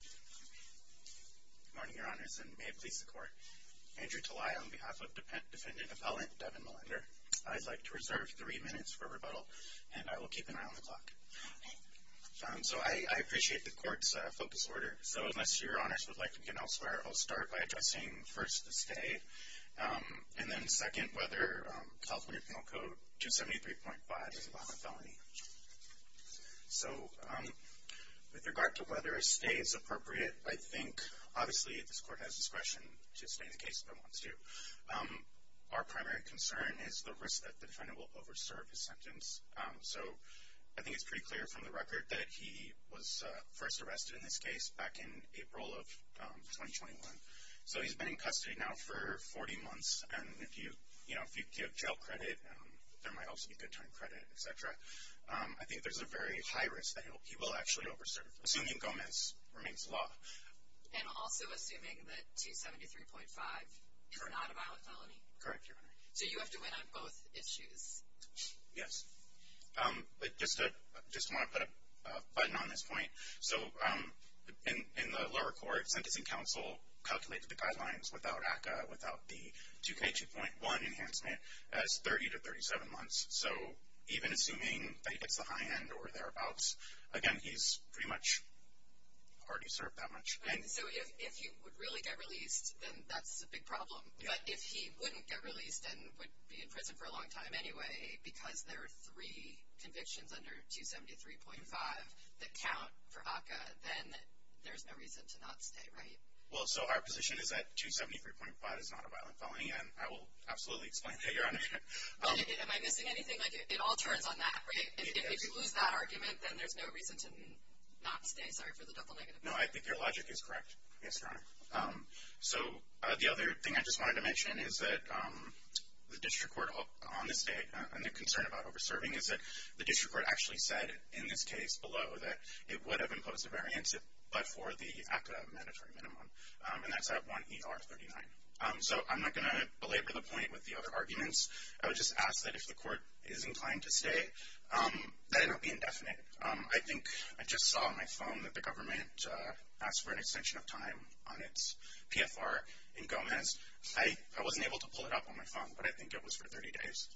Good morning, Your Honors, and may it please the Court. Andrew Talai on behalf of Defendant Appellant Devin Millender. I'd like to reserve three minutes for rebuttal, and I will keep an eye on the clock. So I appreciate the Court's focus order, so unless Your Honors would like to begin elsewhere, I'll start by addressing first the stay, and then second whether California Penal Code 273.5 is a violent felony. So with regard to whether a stay is appropriate, I think obviously this Court has discretion to stay in the case if it wants to. Our primary concern is the risk that the defendant will over-serve his sentence. So I think it's pretty clear from the record that he was first arrested in this case back in April of 2021. So he's been in custody now for 40 months, and if you give jail credit, there might also be good time credit, etc. I think there's a very high risk that he will actually over-serve, assuming Gomez remains law. And also assuming that 273.5 is not a violent felony? Correct, Your Honor. So you have to win on both issues? Yes. I just want to put a button on this point. So in the lower court, Sentencing Council calculated the guidelines without ACCA, without the 2K2.1 enhancement, as 30 to 37 months. So even assuming that he gets the high end or thereabouts, again, he's pretty much already served that much. So if he would really get released, then that's a big problem. But if he wouldn't get released and would be in prison for a long time anyway, because there are three convictions under 273.5 that count for ACCA, then there's no reason to not stay, right? Well, so our position is that 273.5 is not a violent felony, and I will absolutely explain that, Your Honor. Am I missing anything? It all turns on that, right? If you lose that argument, then there's no reason to not stay. Sorry for the double negative. No, I think your logic is correct. Yes, Your Honor. So the other thing I just wanted to mention is that the district court on this date, and the concern about over-serving, is that the district court actually said in this case below that it would have imposed a variance but for the ACCA mandatory minimum, and that's at 1 ER 39. So I'm not going to belabor the point with the other arguments. I would just ask that if the court is inclined to stay, that it not be indefinite. I think I just saw on my phone that the government asked for an extension of time on its PFR in Gomez. I wasn't able to pull it up on my phone, but I think it was for 30 days.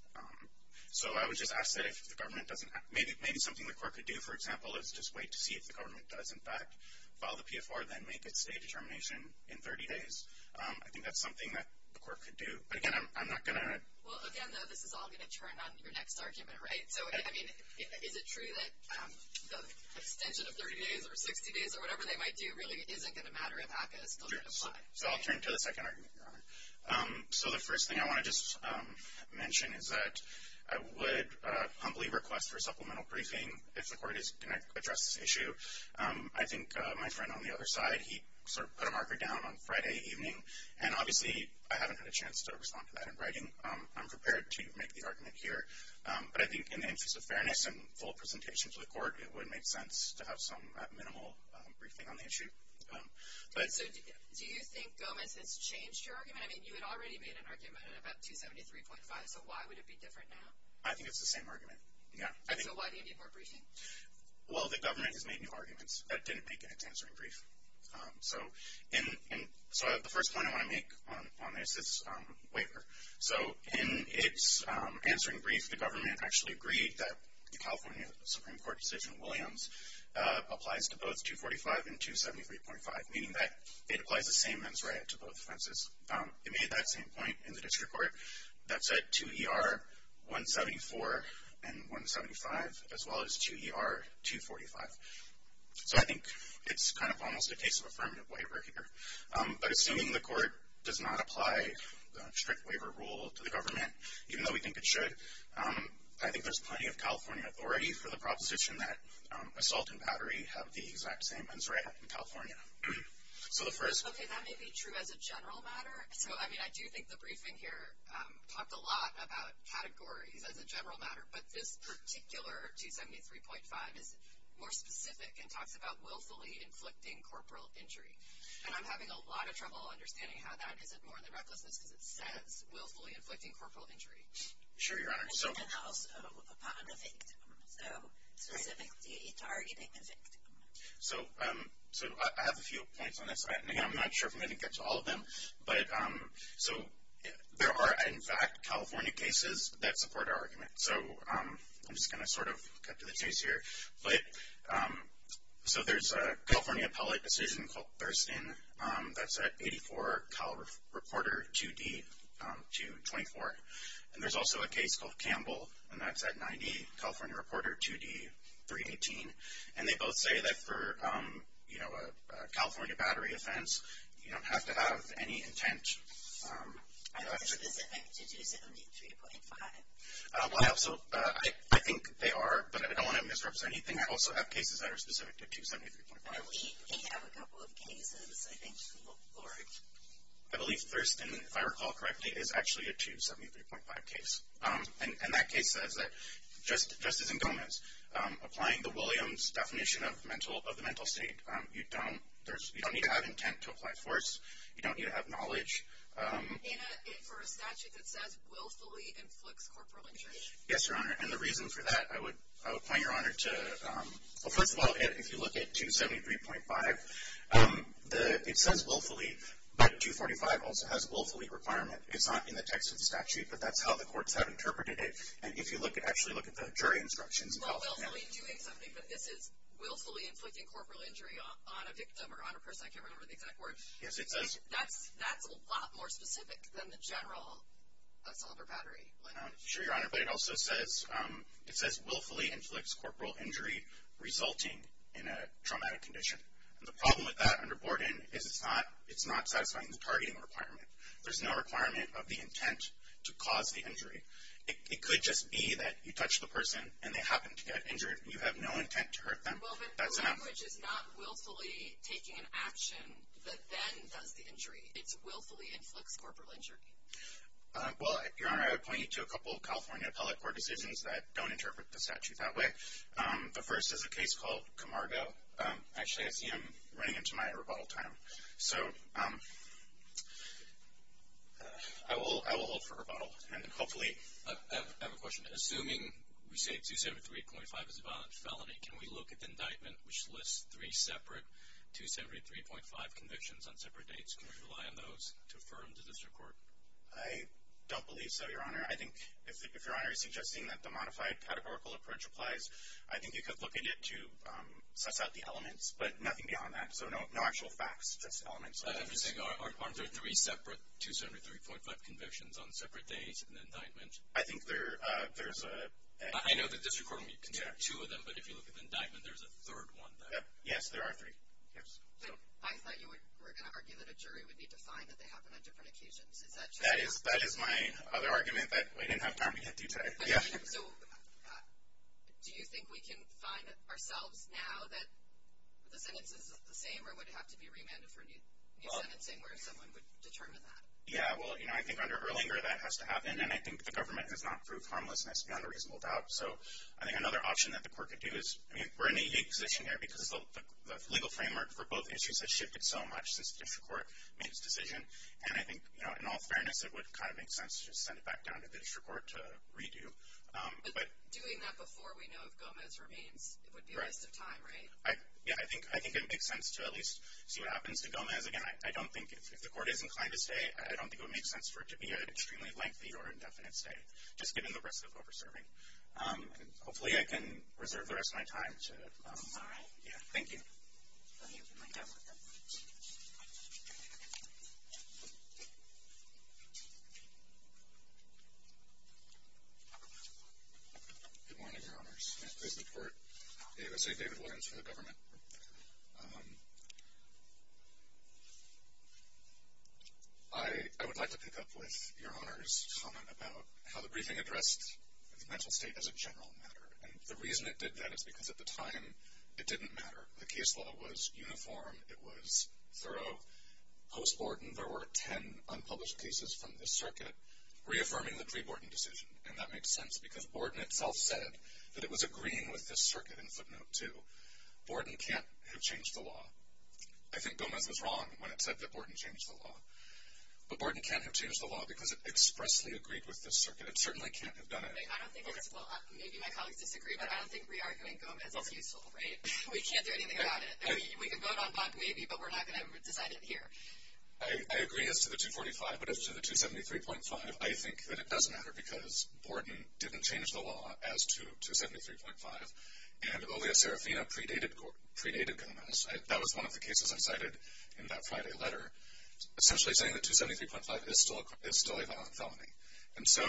So I would just ask that if the government doesn't, maybe something the court could do, is just wait to see if the government does in fact file the PFR, then make its date determination in 30 days. I think that's something that the court could do. But again, I'm not going to... Well, again, this is all going to turn on your next argument, right? So I mean, is it true that the extension of 30 days or 60 days or whatever they might do really isn't going to matter if ACCA is still going to apply? So I'll turn to the second argument, Your Honor. So the first thing I want to just mention is that I would humbly request for a supplemental briefing if the court is going to address this issue. I think my friend on the other side, he sort of put a marker down on Friday evening, and obviously I haven't had a chance to respond to that in writing. I'm prepared to make the argument here. But I think in the interest of fairness and full presentation to the court, it would make sense to have some minimal briefing on the issue. So do you think Gomez has changed your argument? I mean, you had already made an argument about 273.5, so why would it be different now? I think it's the same argument, yeah. And so why do you need more briefing? Well, the government has made new arguments that didn't make it its answering brief. So the first point I want to make on this is waiver. So in its answering brief, the government actually agreed that the California Supreme Court decision, Williams, applies to both 245 and 273.5, meaning that it applies the same mens rea to both offenses. It made that same point in the district court. That's at 2ER-174 and 175, as well as 2ER-245. So I think it's kind of almost a case of affirmative waiver here. But assuming the court does not apply the strict waiver rule to the government, even though we think it should, I think there's plenty of California authority for the proposition that assault and battery have the exact same mens rea in California. So the first— Okay, that may be true as a general matter. So I mean, I do think the briefing here talked a lot about categories as a general matter. But this particular 273.5 is more specific and talks about willfully inflicting corporal injury. And I'm having a lot of trouble understanding how that isn't more than recklessness because it says willfully inflicting corporal injury. Sure, Your Honor. And then also upon the victim. So specifically targeting the victim. So I have a few points on this. I'm not sure if I'm going to get to all of them. But so there are, in fact, California cases that support our argument. So I'm just going to sort of cut to the chase here. But so there's a California appellate decision called Thurston that's at 84 Cal Reporter 2D-24. And there's also a case called Campbell, and that's at 90 Cal Reporter 2D-318. And they both say that for, you know, a California battery offense, you don't have to have any intent. Are they specific to 273.5? Well, so I think they are, but I don't want to misrepresent anything. I also have cases that are specific to 273.5. Well, we have a couple of cases, I think, to look for. I believe Thurston, if I recall correctly, is actually a 273.5 case. And that case says that Justice Indome is applying the Williams definition of the mental state. You don't need to have intent to apply force. You don't need to have knowledge. And for a statute that says willfully inflicts corporal injury? Yes, Your Honor. And the reason for that, I would point Your Honor to, well, first of all, if you look at 273.5, it says willfully, but 245 also has willfully requirement. It's not in the text of the statute, but that's how the courts have interpreted it. And if you look at the jury instructions. Well, willfully doing something, but this is willfully inflicting corporal injury on a victim or on a person. I can't remember the exact word. Yes, it says. That's a lot more specific than the general assault or battery. I'm sure, Your Honor, but it also says, it says willfully inflicts corporal injury resulting in a traumatic condition. And the problem with that under Borden is it's not satisfying the targeting requirement. There's no requirement of the intent to cause the injury. It could just be that you touch the person and they happen to get injured. You have no intent to hurt them. That's enough. Well, but the language is not willfully taking an action that then does the injury. It's willfully inflicts corporal injury. Well, Your Honor, I would point you to a couple of California appellate court decisions that don't interpret the statute that way. The first is a case called Camargo. Actually, I see I'm running into my rebuttal time. So, I will, I will hold for rebuttal. Hopefully, I have a question. Assuming we say 273.5 is a violent felony, can we look at the indictment which lists three separate 273.5 convictions on separate dates? Can we rely on those to affirm the district court? I don't believe so, Your Honor. I think if Your Honor is suggesting that the modified categorical approach applies, I think you could look at it to suss out the elements, but nothing beyond that. So, no actual facts, just elements. Are there three separate 273.5 convictions on separate dates in the indictment? I think there's a... I know the district court can take two of them, but if you look at the indictment, there's a third one there. Yes, there are three. Yes. I thought you were going to argue that a jury would need to find that they happen on different occasions. Is that true? That is my other argument that we didn't have time to get into today. So, do you think we can find ourselves now that the sentence is the same or would it have to be remanded for new sentencing where someone would determine that? Yeah, well, you know, I think under Erlinger that has to happen and I think the government has not proved harmlessness beyond a reasonable doubt. So, I think another option that the court could do is, I mean, we're in a unique position here because the legal framework for both issues has shifted so much since the district court made its decision. And I think, you know, in all fairness, it would kind of make sense to just send it back down to the district court to redo. But doing that before we know if Gomez remains, it would be a waste of time, right? Yeah, I think it makes sense to at least see what happens to Gomez. Again, I don't think if the court is inclined to stay, I don't think it would make sense for it to be an extremely lengthy or indefinite stay, just given the risk of over serving. Hopefully, I can reserve the rest of my time to... All right. Yeah, thank you. Good morning, Your Honors. May it please the court. I would like to pick up with Your Honor's comment about how the briefing addressed the mental state as a general matter. And the reason it did that is because at the time, it didn't matter. The case law was uniform. It was thorough. Post Borden, there were 10 unpublished cases from this circuit reaffirming the pre-Borden decision. And that makes sense because Borden itself said that it was agreeing with this circuit in footnote two. Borden can't have changed the law. I think Gomez was wrong when it said that Borden changed the law. But Borden can't have changed the law because it expressly agreed with this circuit. It certainly can't have done it. I don't think it's... Well, maybe my colleagues disagree, but I don't think re-arguing Gomez is useful, right? We can't do anything about it. We can vote on Bok maybe, but we're not going to decide it here. I agree as to the 245, but as to the 273.5, I think that it doesn't matter because Borden didn't change the law as to 273.5, and Olia Serafina predated Gomez. That was one of the cases I cited in that Friday letter, essentially saying that 273.5 is still a violent felony. And so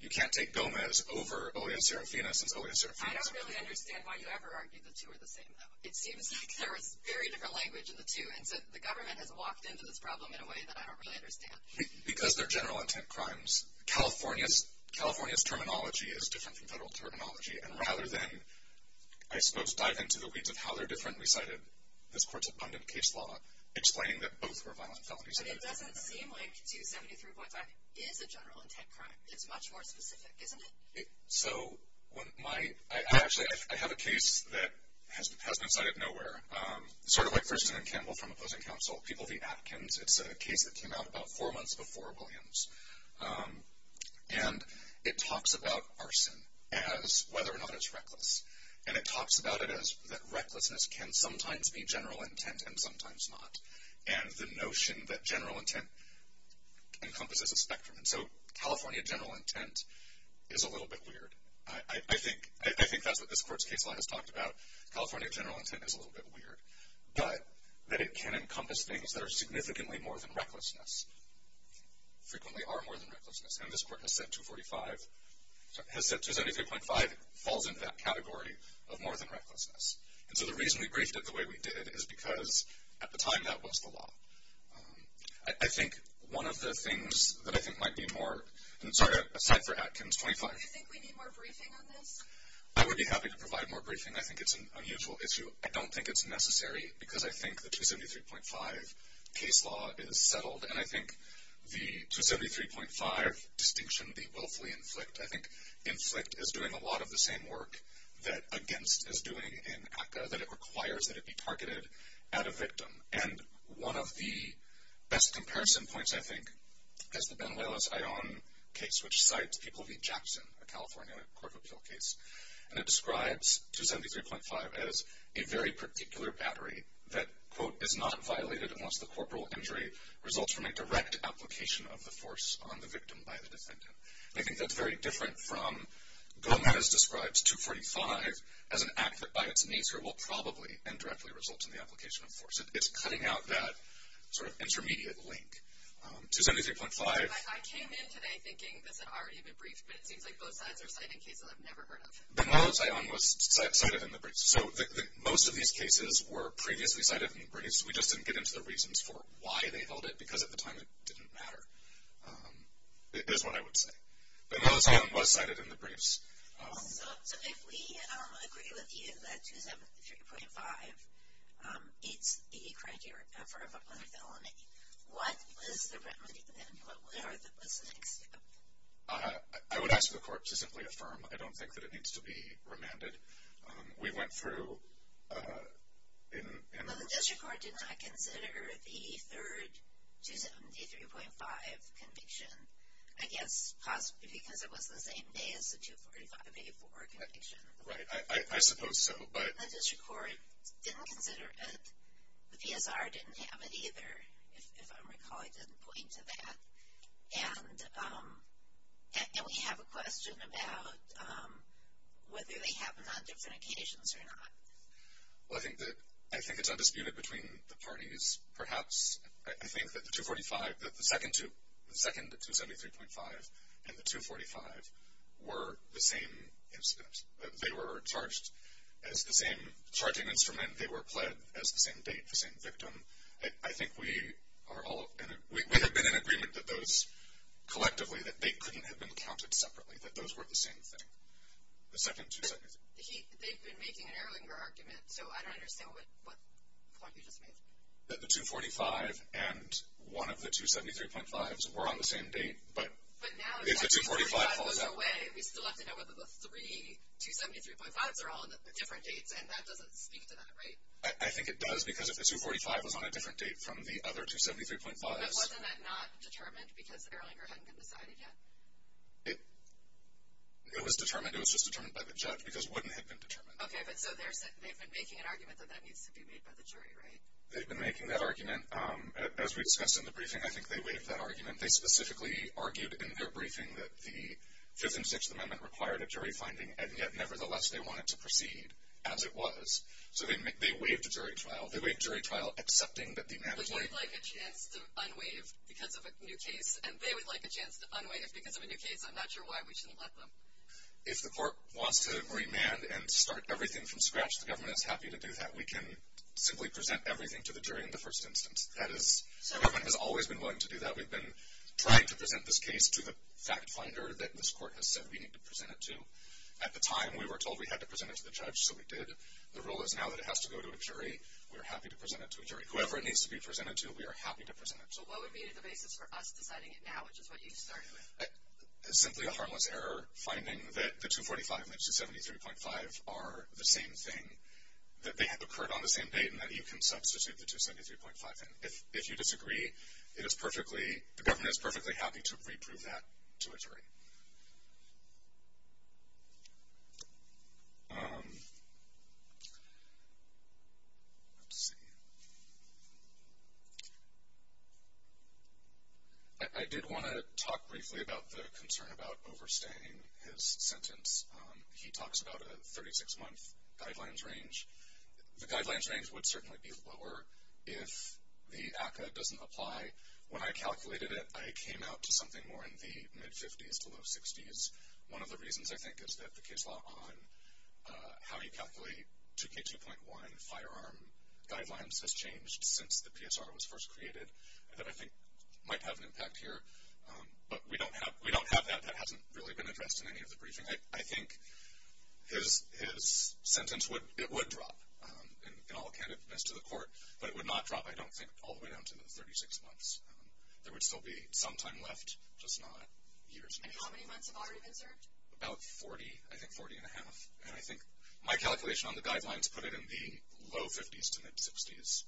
you can't take Gomez over Olia Serafina since Olia Serafina's... I don't really understand why you ever argued the two are the same, though. It seems like there was very different language in the two, and so the government has walked into this problem in a way that I don't really understand. Because they're general intent crimes. California's terminology is different from federal terminology, and rather than, I suppose, dive into the weeds of how they're different, we cited this court's abundant case law explaining that both were violent felonies. But it doesn't seem like 273.5 is a general intent crime. It's much more specific, isn't it? So when my... I actually... I have a case that has been cited nowhere, sort of like First Amendment Campbell from opposing counsel, People v. Atkins. It's a case that came out about four whether or not it's reckless. And it talks about it as that recklessness can sometimes be general intent and sometimes not. And the notion that general intent encompasses a spectrum. And so California general intent is a little bit weird. I think that's what this court's case law has talked about. California general intent is a little bit weird. But that it can encompass things that are significantly more than recklessness. Frequently are more than recklessness. And this court has said 245... has said 273.5 falls into that category of more than recklessness. And so the reason we briefed it the way we did is because at the time that was the law. I think one of the things that I think might be more... and sorry, aside for Atkins 25... Do you think we need more briefing on this? I would be happy to provide more briefing. I think it's an unusual issue. I don't think it's because I think the 273.5 case law is settled. And I think the 273.5 distinction, the willfully inflict, I think inflict is doing a lot of the same work that against is doing in ACCA. That it requires that it be targeted at a victim. And one of the best comparison points, I think, is the Benuelos-Ion case, which cites People v. Jackson, a California court of appeal case. And it describes 273.5 as a very particular battery that, quote, is not violated unless the corporal injury results from a direct application of the force on the victim by the defendant. I think that's very different from Gomez describes 245 as an act that by its nature will probably and directly result in the application of force. It's cutting out that sort of intermediate link. 273.5... I came in today thinking this had already been briefed, but it seems like both sides are citing cases I've never heard of. Benuelos-Ion was cited in the briefs. So most of these cases were previously cited in the briefs. We just didn't get into the reasons for why they held it, because at the time it didn't matter, is what I would say. Benuelos-Ion was cited in the briefs. So if we agree with you that 273.5 is the criteria for a public felony, what is the remedy then? What are the listening steps? I would ask for the court to simply affirm. I don't think that it needs to be remanded. We went through... Well, the district court did not consider the third 273.5 conviction, I guess possibly because it was the same day as the 245A4 conviction. Benuelos-Right. I suppose so, but... The district court didn't consider it. The PSR didn't have it either, if I recall. I didn't know. And we have a question about whether they happened on different occasions or not. Benuelos-Well, I think it's undisputed between the parties, perhaps. I think that the 245, that the second 273.5 and the 245 were the same incident. They were charged as the same charging instrument. They were pled as the same date, the same victim. I think we have been in a situation where they couldn't have been counted separately, that those were the same thing. The second 273.5... Benuelos-They've been making an Erlanger argument, so I don't understand what point you just made. Benuelos-That the 245 and one of the 273.5s were on the same date, but... Benuelos-But now, if the 245 goes away, we still have to know whether the three 273.5s are all on different dates, and that doesn't speak to that, right? Benuelos-I think it does, because if the 245 was on a different date from the other 273.5s... Benuelos-But wasn't that not determined, because Erlanger hadn't been decided yet? Benuelos-It was determined. It was just determined by the judge, because it wouldn't have been determined. Benuelos-Okay, but so they've been making an argument that that needs to be made by the jury, right? Benuelos-They've been making that argument. As we discussed in the briefing, I think they waived that argument. They specifically argued in their briefing that the Fifth and Sixth Amendment required a jury finding, and yet, nevertheless, they wanted to proceed as it was. So they waived jury trial, accepting that the amendment... Benuelos-But they would like a chance to unwaive because of a new case, and they would like a chance to unwaive because of a new case. I'm not sure why we shouldn't let them. Benuelos-If the court wants to remand and start everything from scratch, the government is happy to do that. We can simply present everything to the jury in the first instance. The government has always been willing to do that. We've been trying to present this case to the fact finder that this court has said we need to present it to. At the time, we were told we had to present it to the judge, so we did. The rule is now that it has to go to a jury, we are happy to present it to a jury. Whoever it needs to be presented to, we are happy to present it to. So what would be the basis for us deciding it now, which is what you started with? Benuelos-Simply a harmless error finding that the 245 and the 273.5 are the same thing, that they have occurred on the same date, and that you can substitute the 273.5 in. If you disagree, it is perfectly... the government is perfectly happy to reprove that to a jury. Let's see. I did want to talk briefly about the concern about overstaying his sentence. He talks about a 36-month guidelines range. The guidelines range would certainly be lower if the ACCA doesn't apply. When I calculated it, I came out to something more in the mid-50s to low-60s. One of the reasons, I think, is that the case law on how you calculate 2K2.1 firearm guidelines has changed since the PSR was first created. That, I think, might have an impact here, but we don't have that. That hasn't really been addressed in any of the briefing. I think his sentence would... it would drop, in all candidness to the court, but it would not drop, I don't think, all the way down to the 36 months. There would still be some time left, just not years. How many months have already been served? About 40, I think 40 and a half, and I think my calculation on the guidelines put it in the low-50s to mid-60s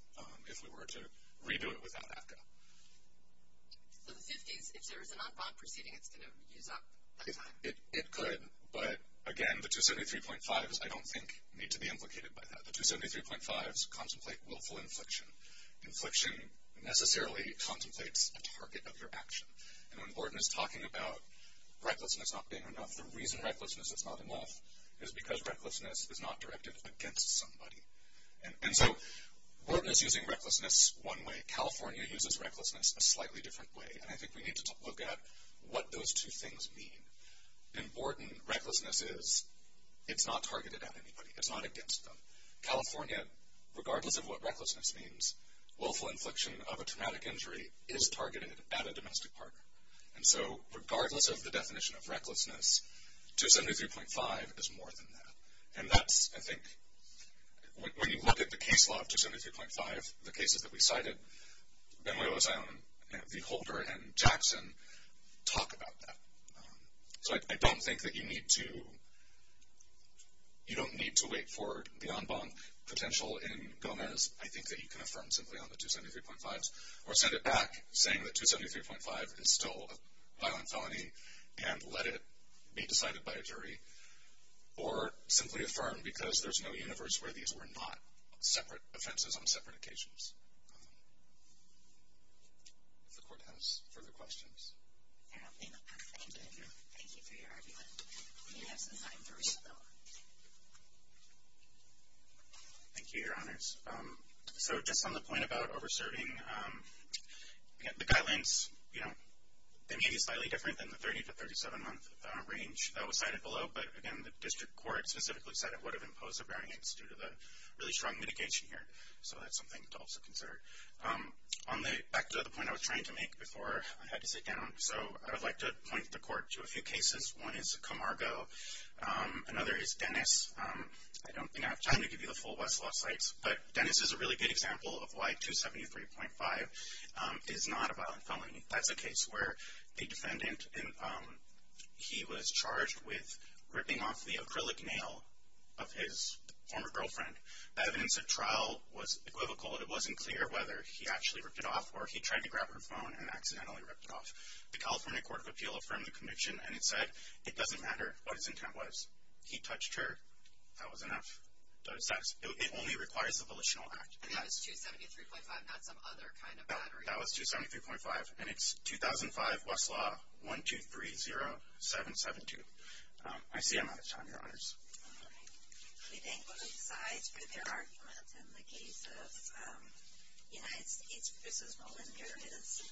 if we were to redo it without ACCA. So the 50s, if there is a non-bond proceeding, it's going to use up that time? It could, but, again, the 273.5s, I don't think, need to be implicated by that. The 273.5s contemplate willful infliction. Infliction necessarily contemplates a target of your action, and when Borden is talking about recklessness not being enough, the reason recklessness is not enough is because recklessness is not directed against somebody, and so Borden is using recklessness one way. California uses recklessness a slightly different way, and I think we need to look at what those two things mean. In Borden, recklessness is it's not targeted at anybody. It's not against them. California, regardless of what recklessness means, willful infliction of a traumatic injury is targeted at a domestic partner, and so regardless of the definition of recklessness, 273.5 is more than that, and that's, I think, when you look at the case law of 273.5, the cases that we cited, Benuelo's Island, the Holder, and Jackson talk about that, so I don't think that you need to, you don't need to wait for the en banc potential in Gomez. I think that you can affirm simply on the 273.5s or send it back saying that 273.5 is still a violent felony and let it be decided by a jury or simply affirm because there's no universe where these were not separate offenses on separate cases. Thank you, your honors. So just on the point about over serving, the guidelines, you know, they may be slightly different than the 30 to 37 month range that was cited below, but again, the district court specifically said it would have imposed a bearing against due to the really strong mitigation here, so that's something to also consider. On the, back to the point I was trying to make before I had to sit down, so I have two examples. One is Camargo, another is Dennis. I don't think I have time to give you the full Westlaw sites, but Dennis is a really good example of why 273.5 is not a violent felony. That's a case where the defendant, he was charged with ripping off the acrylic nail of his former girlfriend. The evidence of trial was equivocal, and it wasn't clear whether he actually ripped it off or he tried to grab her phone and accidentally ripped it off. The California Court of Appeal affirmed the conviction, and it said it doesn't matter what his intent was. He touched her. That was enough. It only requires a volitional act. And that was 273.5, not some other kind of battery. That was 273.5, and it's 2005 Westlaw 1230772. I see I'm out of time, your honors. All right. Let me thank both sides for their arguments in the case of United States v. Roland Harris.